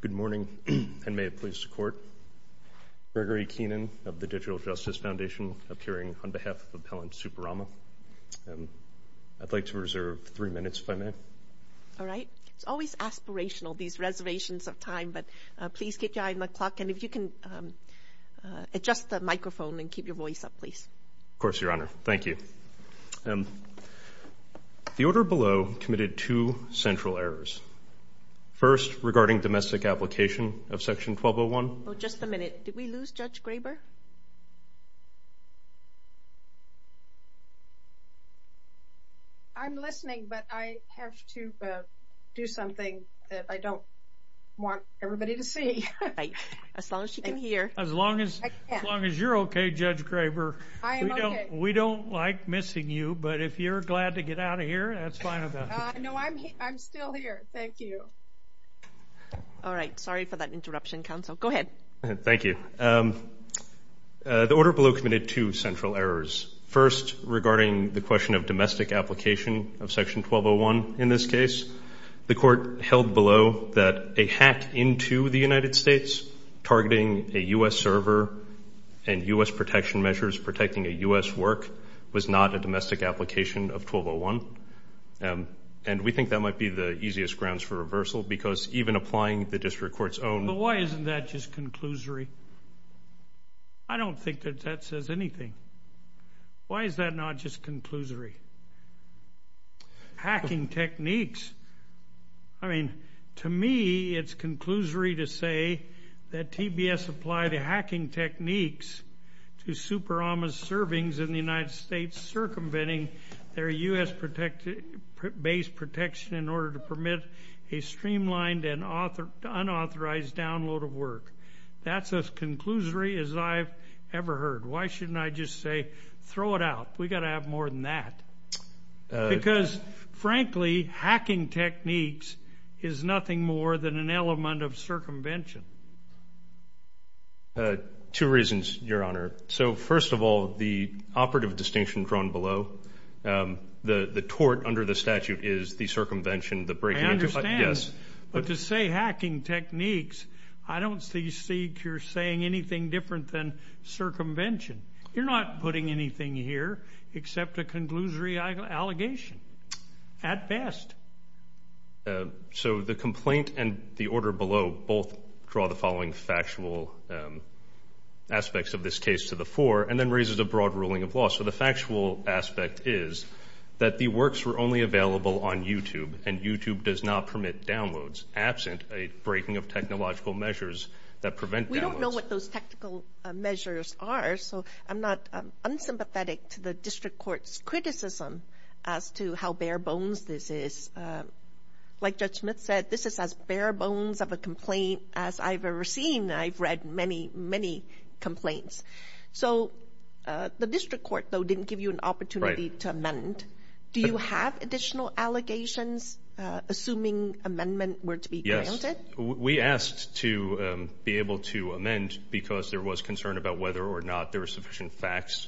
Good morning, and may it please the Court. Gregory Keenan of the Digital Justice Foundation appearing on behalf of Appellant Superama. I'd like to reserve three minutes, if I may. All right. It's always aspirational, these reservations of time, but please keep your If you can adjust the microphone and keep your voice up, please. Of course, Your Honor. Thank you. The order below committed two central errors. First, regarding domestic application of Section 1201. Oh, just a minute. Did we lose Judge Graber? I'm listening, but I have to do something that I don't want everybody to see. As long as she can hear. As long as you're okay, Judge Graber. I am okay. We don't like missing you, but if you're glad to get out of here, that's fine with us. No, I'm still here. Thank you. All right. Sorry for that interruption, Counsel. Go ahead. Thank you. The order below committed two central errors. First, regarding the question of domestic application of Section 1201. In this case, the Court held below that a hack into the United States targeting a U.S. server and U.S. protection measures protecting a U.S. work was not a domestic application of 1201, and we think that might be the easiest grounds for reversal, because even applying the District Court's own... But why isn't that just conclusory? I don't think that that says anything. Why is that not just conclusory? Hacking techniques. I mean, to me, it's conclusory to say that TBS applied the hacking techniques to Super Ama's servings in the United States circumventing their U.S.-based protection in order to permit a streamlined and unauthorized download of work. That's as conclusory as I've ever heard. Why shouldn't I just say, throw it out? We've got to have more than that. Because, frankly, hacking techniques is nothing more than an element of circumvention. Two reasons, Your Honor. So, first of all, the operative distinction drawn below, the tort under the statute is the circumvention, the breaking into... I understand. Yes. But to say hacking techniques, I don't see Seigner saying anything different than circumvention. You're not putting anything here except a conclusory allegation, at best. So the complaint and the order below both draw the following factual aspects of this case to the fore, and then raises a broad ruling of law. So the factual aspect is that the works were only available on YouTube, and YouTube does not permit downloads, absent a breaking of technological measures that prevent downloads. We don't know what those technical measures are, so I'm not unsympathetic to the district court's criticism as to how bare bones this is. Like Judge Smith said, this is as bare bones of a complaint as I've ever seen. I've read many, many complaints. So the district court, though, didn't give you an opportunity to amend. Do you have additional allegations, assuming amendment were to be granted? Yes. We asked to be able to amend because there was concern about whether or not there were sufficient facts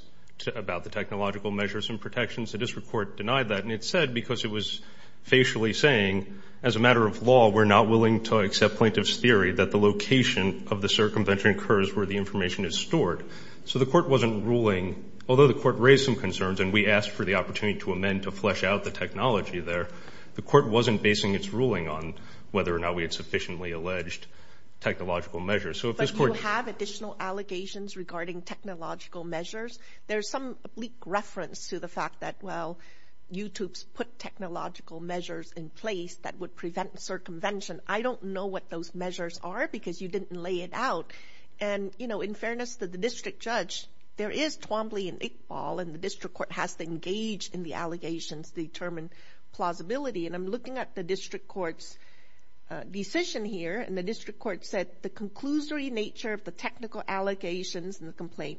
about the technological measures and protections. The district court denied that. And it said, because it was facially saying, as a matter of law, we're not willing to accept plaintiff's theory that the location of the circumvention occurs where the information is stored. So the court wasn't ruling. Although the court raised some concerns, and we asked for the opportunity to amend to flesh out the technology there, the court wasn't basing its ruling on whether or not we had sufficiently alleged technological measures. But you have additional allegations regarding technological measures. There's some bleak reference to the fact that, well, YouTube's put technological measures in place that would prevent circumvention. I don't know what those measures are because you didn't lay it out. And, you know, in fairness to the district judge, there is Twombly and Iqbal, and the district court has to engage in the allegations to determine plausibility. And I'm looking at the district court's decision here. And the district court said the conclusory nature of the technical allegations in the complaint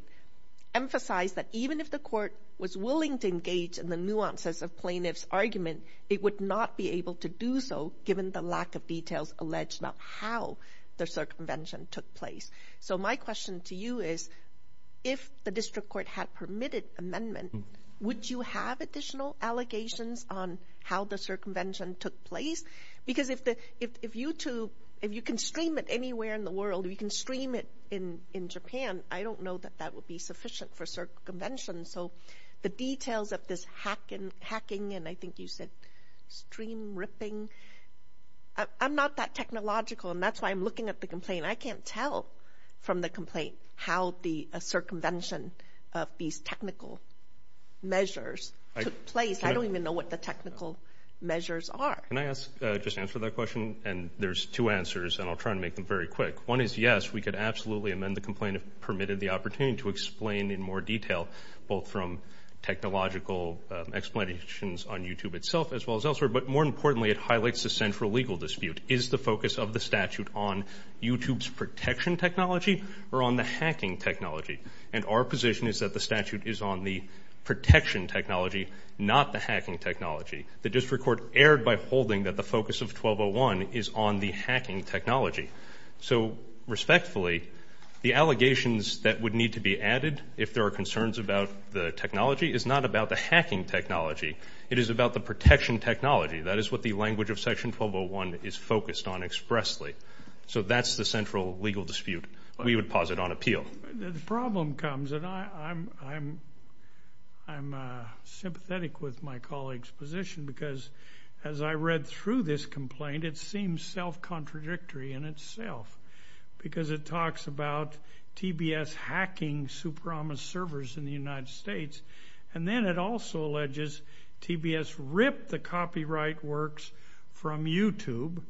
emphasized that even if the court was willing to engage in the nuances of plaintiff's argument, it would not be able to do so given the lack of details alleged about how the circumvention took place. So my question to you is, if the district court had permitted amendment, would you have additional allegations on how the circumvention took place? Because if YouTube, if you can stream it anywhere in the world, if you can stream it in Japan, I don't know that that would be sufficient for circumvention. So the details of this hacking, and I think you said stream ripping, I'm not that technological, and that's why I'm at the complaint. I can't tell from the complaint how the circumvention of these technical measures took place. I don't even know what the technical measures are. Can I just answer that question? And there's two answers, and I'll try and make them very quick. One is, yes, we could absolutely amend the complaint if permitted the opportunity to explain in more detail, both from technological explanations on YouTube itself, as well as elsewhere. But more importantly, it highlights the central legal dispute. Is the focus of the statute on YouTube's protection technology or on the hacking technology? And our position is that the statute is on the protection technology, not the hacking technology. The district court erred by holding that the focus of 1201 is on the hacking technology. So respectfully, the allegations that would need to be added if there are concerns about the technology is not about the hacking technology. It is about the protection technology. That is what the language of Section 1201 is focused on expressly. So that's the central legal dispute. We would pause it on appeal. The problem comes, and I'm sympathetic with my colleague's position because as I read through this complaint, it seems self-contradictory in itself because it talks about TBS hacking Superama servers in the United States. And then it also alleges TBS ripped the copyright works from YouTube,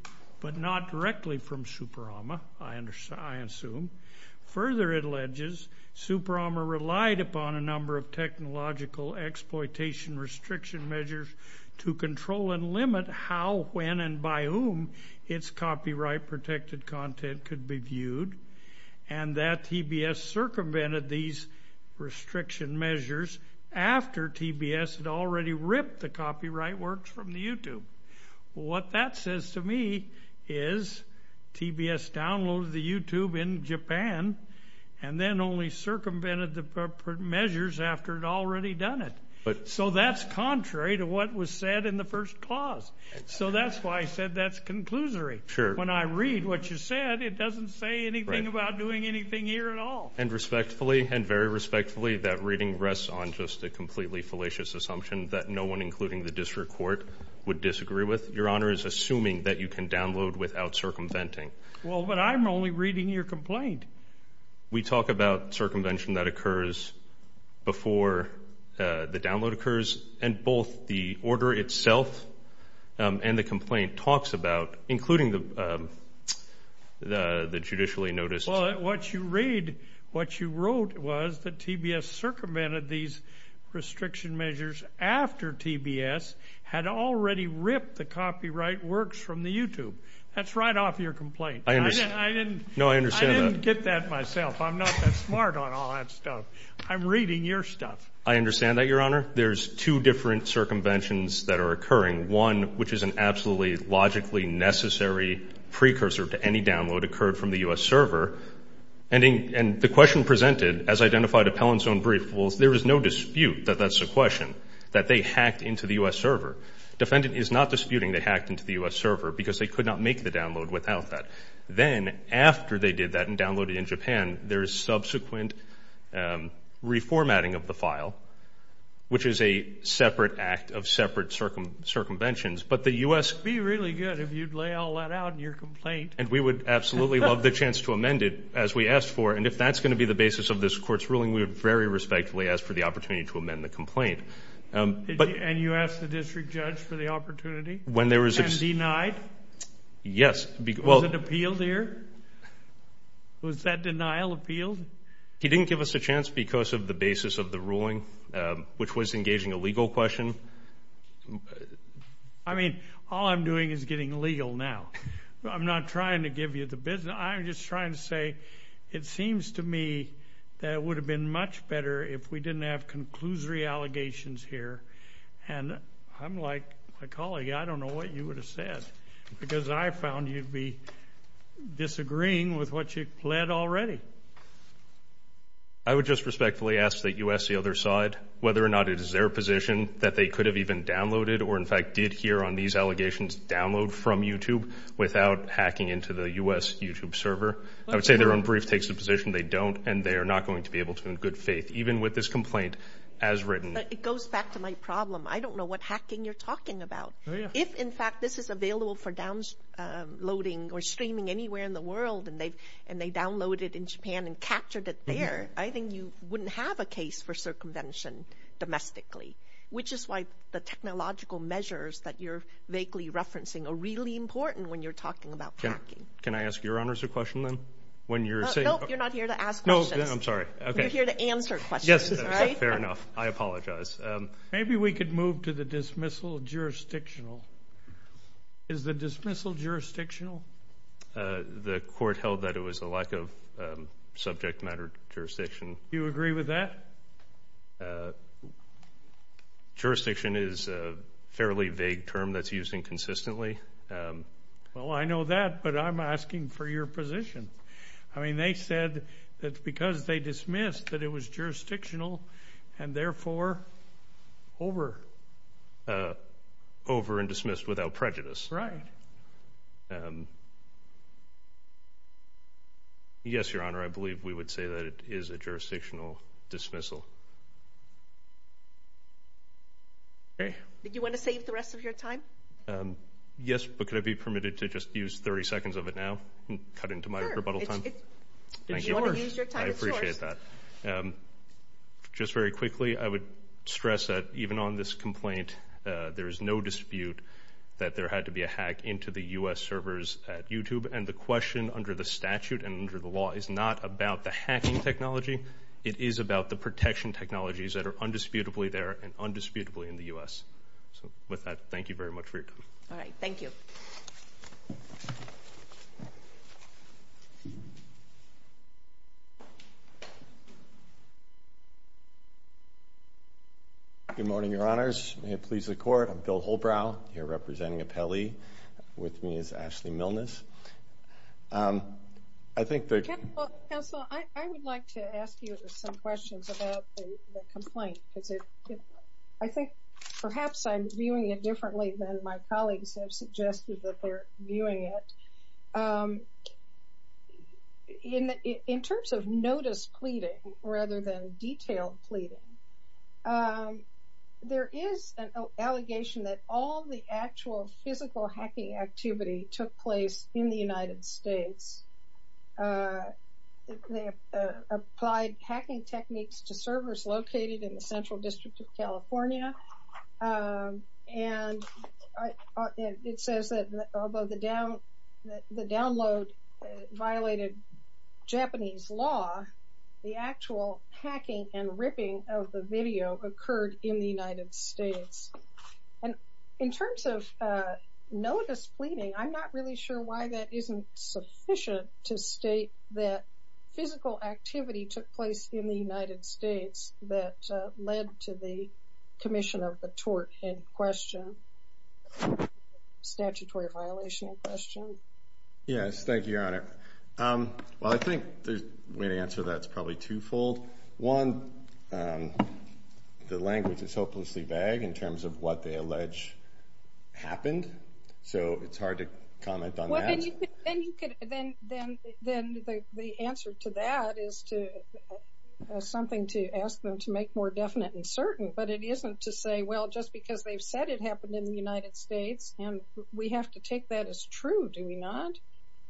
but not directly from Superama, I assume. Further, it alleges Superama relied upon a number of technological exploitation restriction measures to control and limit how, when, and by whom its copyright-protected content could be viewed, and that TBS circumvented these restriction measures after TBS had already ripped the copyright works from the YouTube. What that says to me is TBS downloaded the YouTube in Japan and then only circumvented the measures after it had already done it. So that's contrary to what was said in the first clause. So that's why I said that's conclusory. Sure. When I read what you said, it doesn't say anything about doing anything here at all. And respectfully, and very respectfully, that reading rests on just a completely fallacious assumption that no one, including the district court, would disagree with. Your Honor is assuming that you can download without circumventing. Well, but I'm only reading your complaint. We talk about circumvention that occurs before the download occurs, and both the order itself and the complaint talks about, including the the the judicially noticed. Well, what you read, what you wrote, was that TBS circumvented these restriction measures after TBS had already ripped the copyright works from the YouTube. That's right off your complaint. I understand. I didn't. No, I understand. I didn't get that myself. I'm not that smart on all that stuff. I'm reading your stuff. I understand that, Your Honor. There's two different circumventions that are occurring. One, which is an absolutely logically necessary precursor to any download, occurred from the U.S. server. And the question presented, as identified Appellant's own brief, was there is no dispute that that's a question that they hacked into the U.S. server. Defendant is not disputing they hacked into the U.S. server because they could not make the download without that. Then, after they did that and downloaded in Japan, there is subsequent reformatting of the file, which is a separate act of separate circumventions. But the U.S. Be really good if you'd lay all that out in your complaint. And we would absolutely love the chance to amend it as we asked for. And if that's going to be the basis of this court's ruling, we would very respectfully ask for the opportunity to amend the complaint. And you asked the district judge for the opportunity? And denied? Yes. Was it appealed here? Was that denial appealed? He didn't give us a chance because of the basis of the ruling, which was engaging a legal question. I mean, all I'm doing is getting legal now. I'm not trying to give you the business. I'm just trying to say it seems to me that it would have been much better if we didn't have conclusory allegations here. And I'm like a colleague. I don't know what you would have said because I found you'd be disagreeing with what you pled already. I would just respectfully ask the U.S. the other side whether or not it is their position that they could have even downloaded or, in fact, did here on these allegations download from YouTube without hacking into the U.S. YouTube server. I would say their own brief takes the position they don't, and they are not going to be able to in good faith, even with this complaint as written. It goes back to my problem. I don't know what hacking you're talking about. If, in fact, this is available for downloading or streaming anywhere in the world, and they downloaded it in Japan and captured it there, I think you wouldn't have a case for circumvention domestically, which is why the technological measures that you're vaguely referencing are really important when you're talking about hacking. Can I ask your honors a question? No, you're not here to ask questions. I'm sorry. You're here to answer questions. Fair enough. I apologize. Maybe we could move to the dismissal jurisdictional. Is the dismissal jurisdictional? The court held that it was a lack of subject matter jurisdiction. Do you agree with that? Jurisdiction is a fairly vague term that's used inconsistently. Well, I know that, but I'm asking for your position. I mean, they said that because they dismissed that it was jurisdictional and therefore over. Over and dismissed without prejudice. Right. Yes, Your Honor, I believe we would say that it is a jurisdictional dismissal. Okay, but you want to save the rest of your time? Yes, but could I be permitted to just use 30 seconds of it now and cut into my rebuttal time? Sure. If you want to use your time, it's yours. I appreciate that. Just very quickly, I would stress that even on this complaint, there is no dispute that there had to be a hack into the U.S. servers at YouTube, and the question under the statute and under the law is not about the hacking technology. It is about the protection of the technologies that are undisputably there and undisputably in the U.S. So with that, thank you very much for your time. All right. Thank you. Good morning, Your Honors. May it please the Court, I'm Bill Holbrow, here representing the complaint. I think perhaps I'm viewing it differently than my colleagues have suggested that they're viewing it. In terms of notice pleading rather than detailed pleading, there is an allegation that all the actual physical hacking activity took place in the United States. They applied hacking techniques to servers located in the Central District of California, and it says that although the download violated Japanese law, the actual hacking and ripping of the video occurred in the United States. And in terms of notice pleading, I'm not really sure why that isn't sufficient to state that physical activity took place in the United States that led to the commission of the tort in question, statutory violation in question. Yes, thank you, Your Honor. Well, I think the way to answer that is probably twofold. One, the language is hopelessly vague in terms of what they allege happened, so it's hard to comment on that. Then the answer to that is something to ask them to make more definite and certain. But it isn't to say, well, just because they've said it happened in the United States, we have to take that as true, do we not?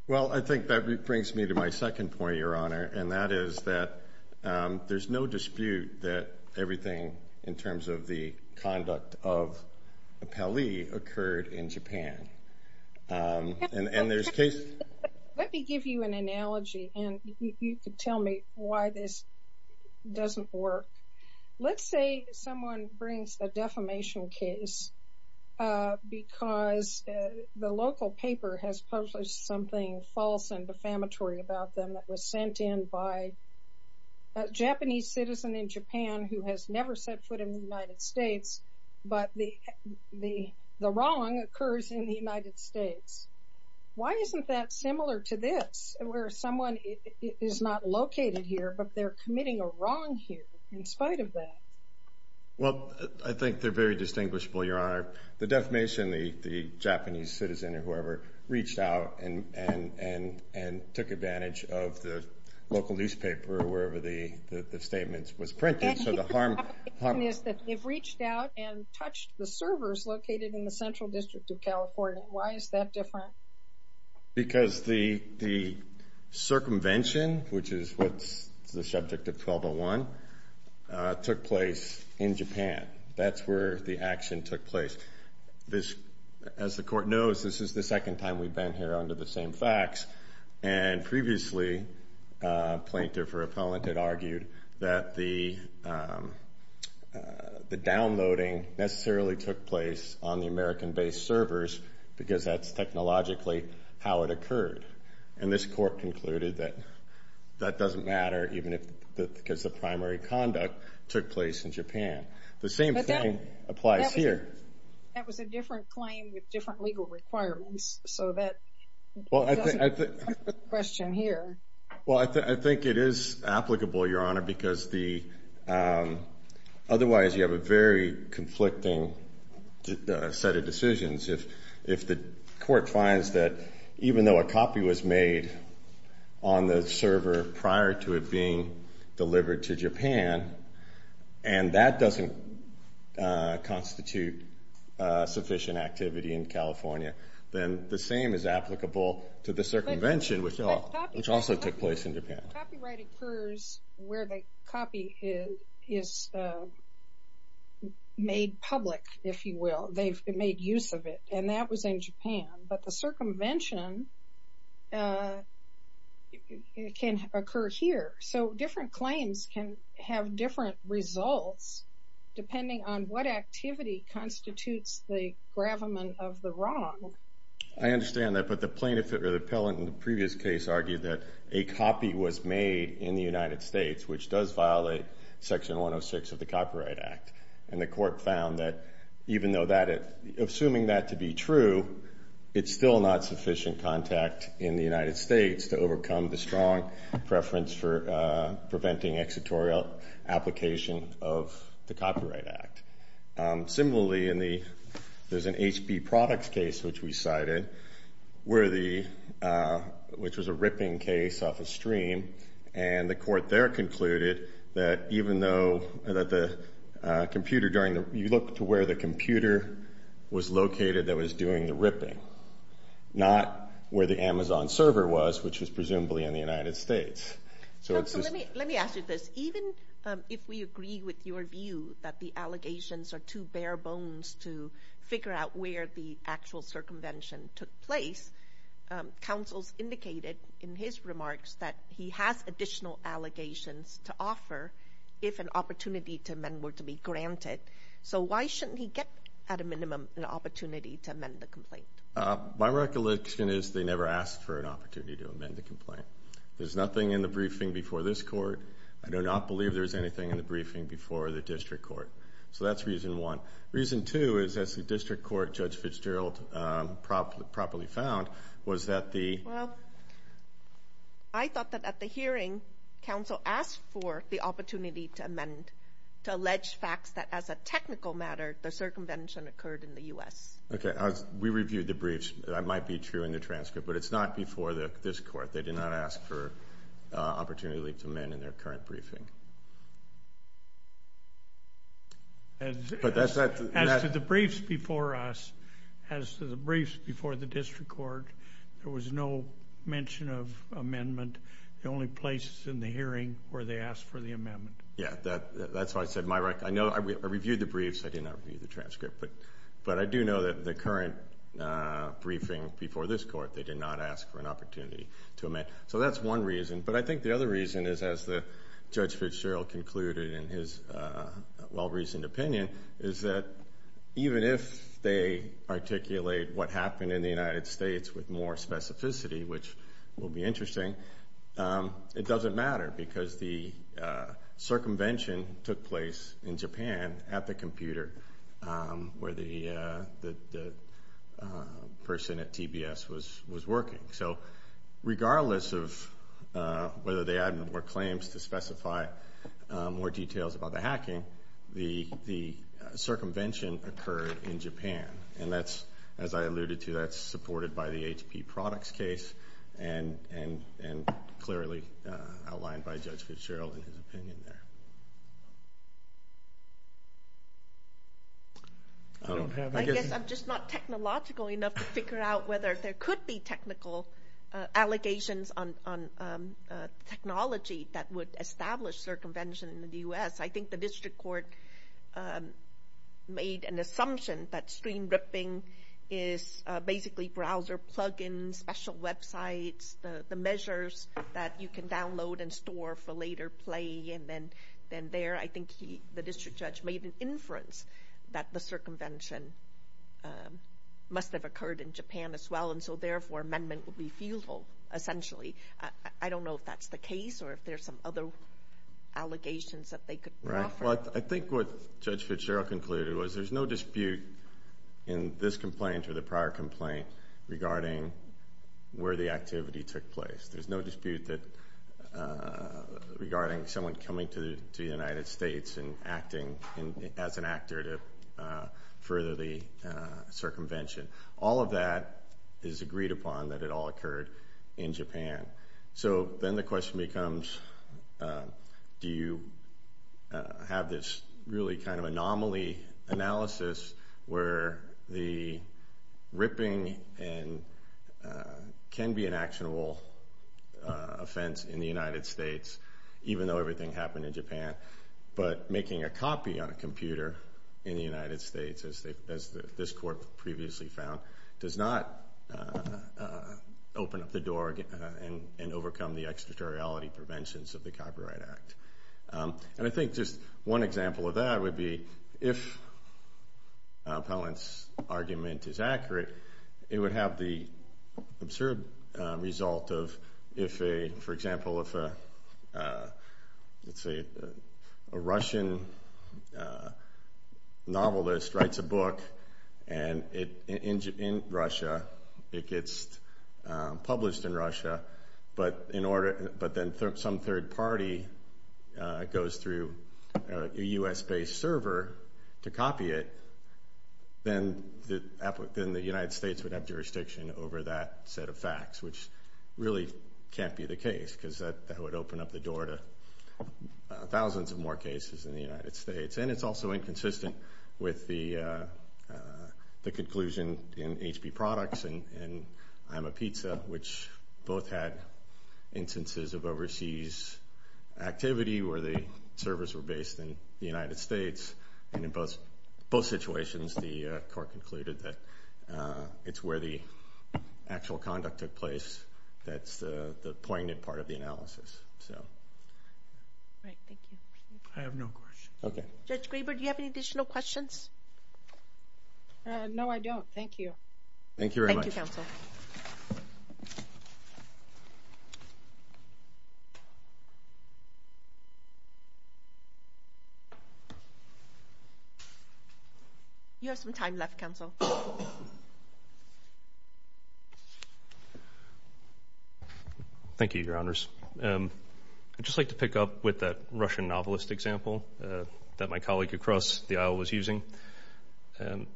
Well, I think that brings me to my second point, Your Honor, and that is that there's no dispute that everything in terms of the conduct of Pele occurred in Japan. Let me give you an analogy, and you could tell me why this doesn't work. Let's say someone brings a defamation case because the local paper has published something false and defamatory about them that was sent in by a Japanese citizen in Japan who has never set foot in the United States, but the wrong occurs in the United States. Why isn't that similar to this, where someone is not located here, but they're committing a wrong here in spite of that? Well, I think they're very distinguishable, Your Honor. The defamation, the Japanese citizen or whoever reached out and took advantage of the local newspaper or wherever the statement was printed. So the harm is that they've reached out and touched the servers located in the Central District of California. Why is that different? Because the circumvention, which is what's the subject of 1201, took place in Japan. That's where the action took place. As the Court knows, this is the second time we've been here under the same facts. And previously, a plaintiff or appellant had argued that the downloading necessarily took place on the American-based servers because that's technologically how it occurred. And this Court concluded that that doesn't matter, even if because the primary conduct took place in Japan. The same thing applies here. That was a different claim with different legal requirements. So that doesn't question here. Well, I think it is applicable, Your Honor, because otherwise you have a very conflicting set of decisions. If the Court finds that even though a copy was made on the server prior to it being delivered to Japan, and that doesn't constitute sufficient activity in California, then the same is applicable to the circumvention, which also took place in Japan. Copyright occurs where the copy is made public, if you will. They've made use of it. And that was in Japan. But the circumvention can occur here. So different claims can have different results, depending on what activity constitutes the gravamen of the wrong. I understand that. But the plaintiff or the appellant in the previous case argued that a copy was made in the United States, which does violate Section 106 of the Copyright Act. And the Court found that assuming that to be true, it's still not sufficient contact in the United States to overcome the strong preference for preventing exitorial application of the Copyright Act. Similarly, there's an HP Products case, which we cited, which was a ripping case off a stream. And the Court there concluded that even though you looked to where the computer was located that was doing the ripping, not where the Amazon server was, which was presumably in the United States. Let me ask you this. Even if we agree with your view that the allegations are too bare bones to figure out where the actual circumvention took place, counsels indicated in his remarks that he has additional allegations to offer if an opportunity to amend were to be granted. So why shouldn't he get, at a minimum, an opportunity to amend the complaint? My recollection is they never asked for an opportunity to amend the complaint. There's nothing in the briefing before this Court. I do not believe there's anything in the briefing before the District Court. So that's reason one. Reason two is, as the District Court, Judge Fitzgerald, properly found, was that the... Well, I thought that at the hearing, counsel asked for the opportunity to amend, to allege facts that as a technical matter, the circumvention occurred in the U.S. Okay. We reviewed the briefs. That might be true in the transcript, but it's not before this Court. They did not ask for opportunity to amend in their current briefing. As to the briefs before us, as to the briefs before the District Court, there was no mention of amendment. The only places in the hearing where they asked for the amendment. Yeah, that's why I said my recollection. I reviewed the briefs. I did not review the transcript, but I do know that the current briefing before this Court, they did not ask for an opportunity to amend. So that's one reason. But I think the other reason is, as the Judge Fitzgerald concluded in his well-reasoned opinion, is that even if they articulate what happened in the United States with more specificity, which will be interesting, it doesn't matter because the circumvention took place in Japan at the computer where the person at TBS was working. So regardless of whether they added more claims to specify more details about the hacking, the circumvention occurred in Japan. And that's, as I alluded to, that's supported by the HP Products case and clearly outlined by Judge Fitzgerald in his opinion. I'm just not technological enough to figure out whether there could be technical allegations on technology that would establish circumvention in the U.S. I think the District Court made an assumption that screen ripping is basically browser plug-ins, special websites, the measures that you can download and store for later play. And then there, I think the District Judge made an inference that the circumvention must have occurred in Japan as well, and so therefore amendment would be feasible, essentially. I don't know if that's the case or if there's some other allegations that they could offer. Right. Well, I think what Judge Fitzgerald concluded was there's no dispute in this complaint or the prior complaint regarding where the activity took place. There's no dispute regarding someone coming to the United States and acting as an actor to further the circumvention. All of that is agreed upon that it all occurred in Japan. So then the question becomes, do you have this really kind of anomaly analysis where the ripping can be an actionable offense in the United States, even though everything happened in Japan, but making a copy on a computer in the United States, as this Court previously found, does not open up the door and overcome the extraterritoriality preventions of the Copyright Act. And I think just one example of that would be if Appellant's argument is accurate, it would have the absurd result of if, for example, if let's say a Russian novelist writes a book in Russia, it gets a U.S.-based server to copy it, then the United States would have jurisdiction over that set of facts, which really can't be the case, because that would open up the door to thousands of more cases in the United States. And it's also inconsistent with the conclusion in HP Products and I'm a Pizza, which both had instances of overseas activity where the servers were based in the United States. And in both situations, the Court concluded that it's where the actual conduct took place that's the poignant part of the analysis. So. Right. Thank you. I have no questions. Okay. Judge You have some time left, Counsel. Thank you, Your Honors. I'd just like to pick up with that Russian novelist example that my colleague across the aisle was using.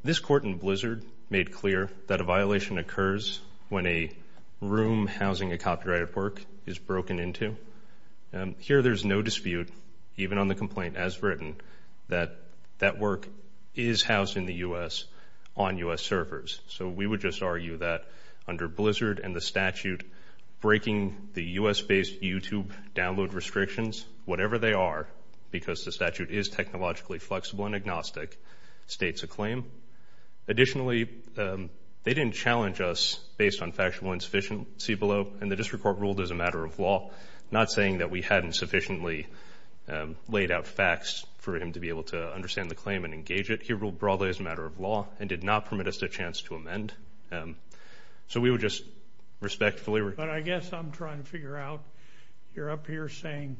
This Court in Blizzard made clear that a violation occurs when a room housing a copyrighted work is broken into. Here there's no dispute, even on the complaint as written, that that work is housed in the U.S. on U.S. servers. So we would just argue that under Blizzard and the statute breaking the U.S.-based YouTube download restrictions, whatever they are, because the statute is technologically flexible and agnostic, states a claim. Additionally, they didn't challenge us based on factual insufficiency below, and the District Court ruled as a matter of law, not saying that we hadn't sufficiently laid out facts for him to be able to understand the claim and engage it. He ruled broadly as a matter of law and did not permit us a chance to amend. So we would just respectfully... But I guess I'm trying to figure out you're up here saying,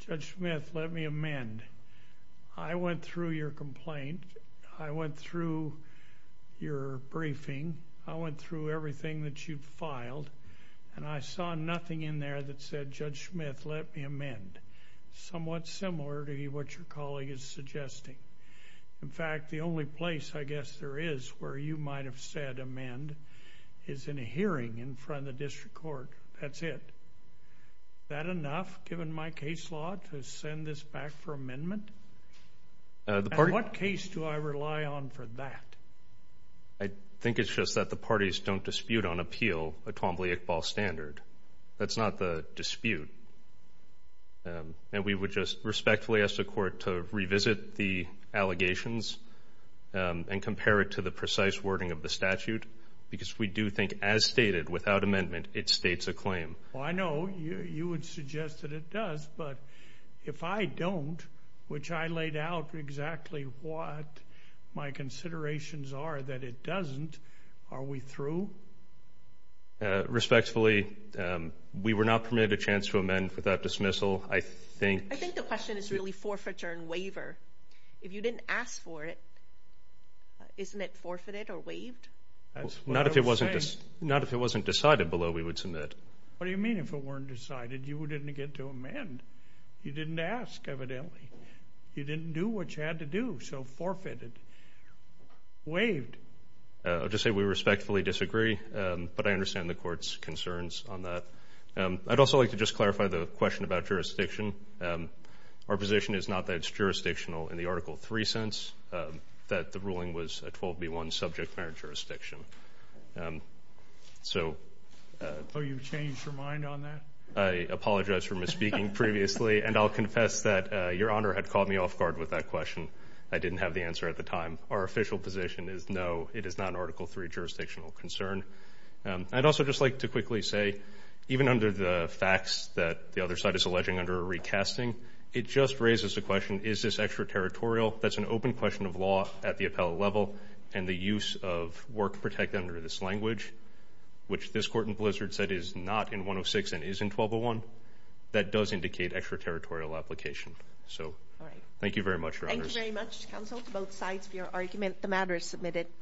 Judge Smith, let me amend. I went through your complaint. I went through your briefing. I went through everything that you've filed, and I saw nothing in there that said, Judge Smith, let me amend. Somewhat similar to what your colleague is suggesting. In fact, the only place I guess there is where you might have said amend is in a hearing in front of the District Court. That's it. That enough, given my case law, to send this back for amendment? What case do I rely on for that? I think it's just that the parties don't dispute on appeal a Twombly-Iqbal standard. That's not the dispute. And we would just respectfully ask the Court to revisit the allegations and compare it to the precise wording of the statute, because we do think, as stated, without amendment, it states a claim. Well, I know you would suggest that it does, but if I don't, which I laid out exactly what my considerations are that it doesn't, are we through? Respectfully, we were not permitted a chance to amend without dismissal. I think... I think the question is really forfeiture and waiver. If you didn't ask for it, isn't it forfeited or waived? Not if it wasn't decided below we would submit. What do you mean if it weren't decided? You didn't get to amend. You didn't ask, evidently. You didn't do what you had to do, so forfeited. Waived. I'll just say we respectfully disagree, but I understand the Court's concerns on that. I'd also like to just clarify the question about jurisdiction. Our position is not that it's jurisdictional in the Article 3 sense, that the ruling was a 12b1 subject matter jurisdiction. So... Oh, you've changed your mind on that? I apologize for misspeaking previously, and I'll confess that Your Honor had caught me off guard with that question. I didn't have the answer at the time. Our official position is no, it is not an Article 3 jurisdictional concern. I'd also just like to quickly say, even under the facts that the other side is alleging under a recasting, it just raises the question, is this extraterritorial? That's an open question of law at the appellate level, and the use of work protect under this language, which this Court in Blizzard said is not in 106 and is in 1201, that does indicate extraterritorial application. So, thank you very much, Your Honor. Thank you very much, counsel, both sides of your argument. The matter is submitted.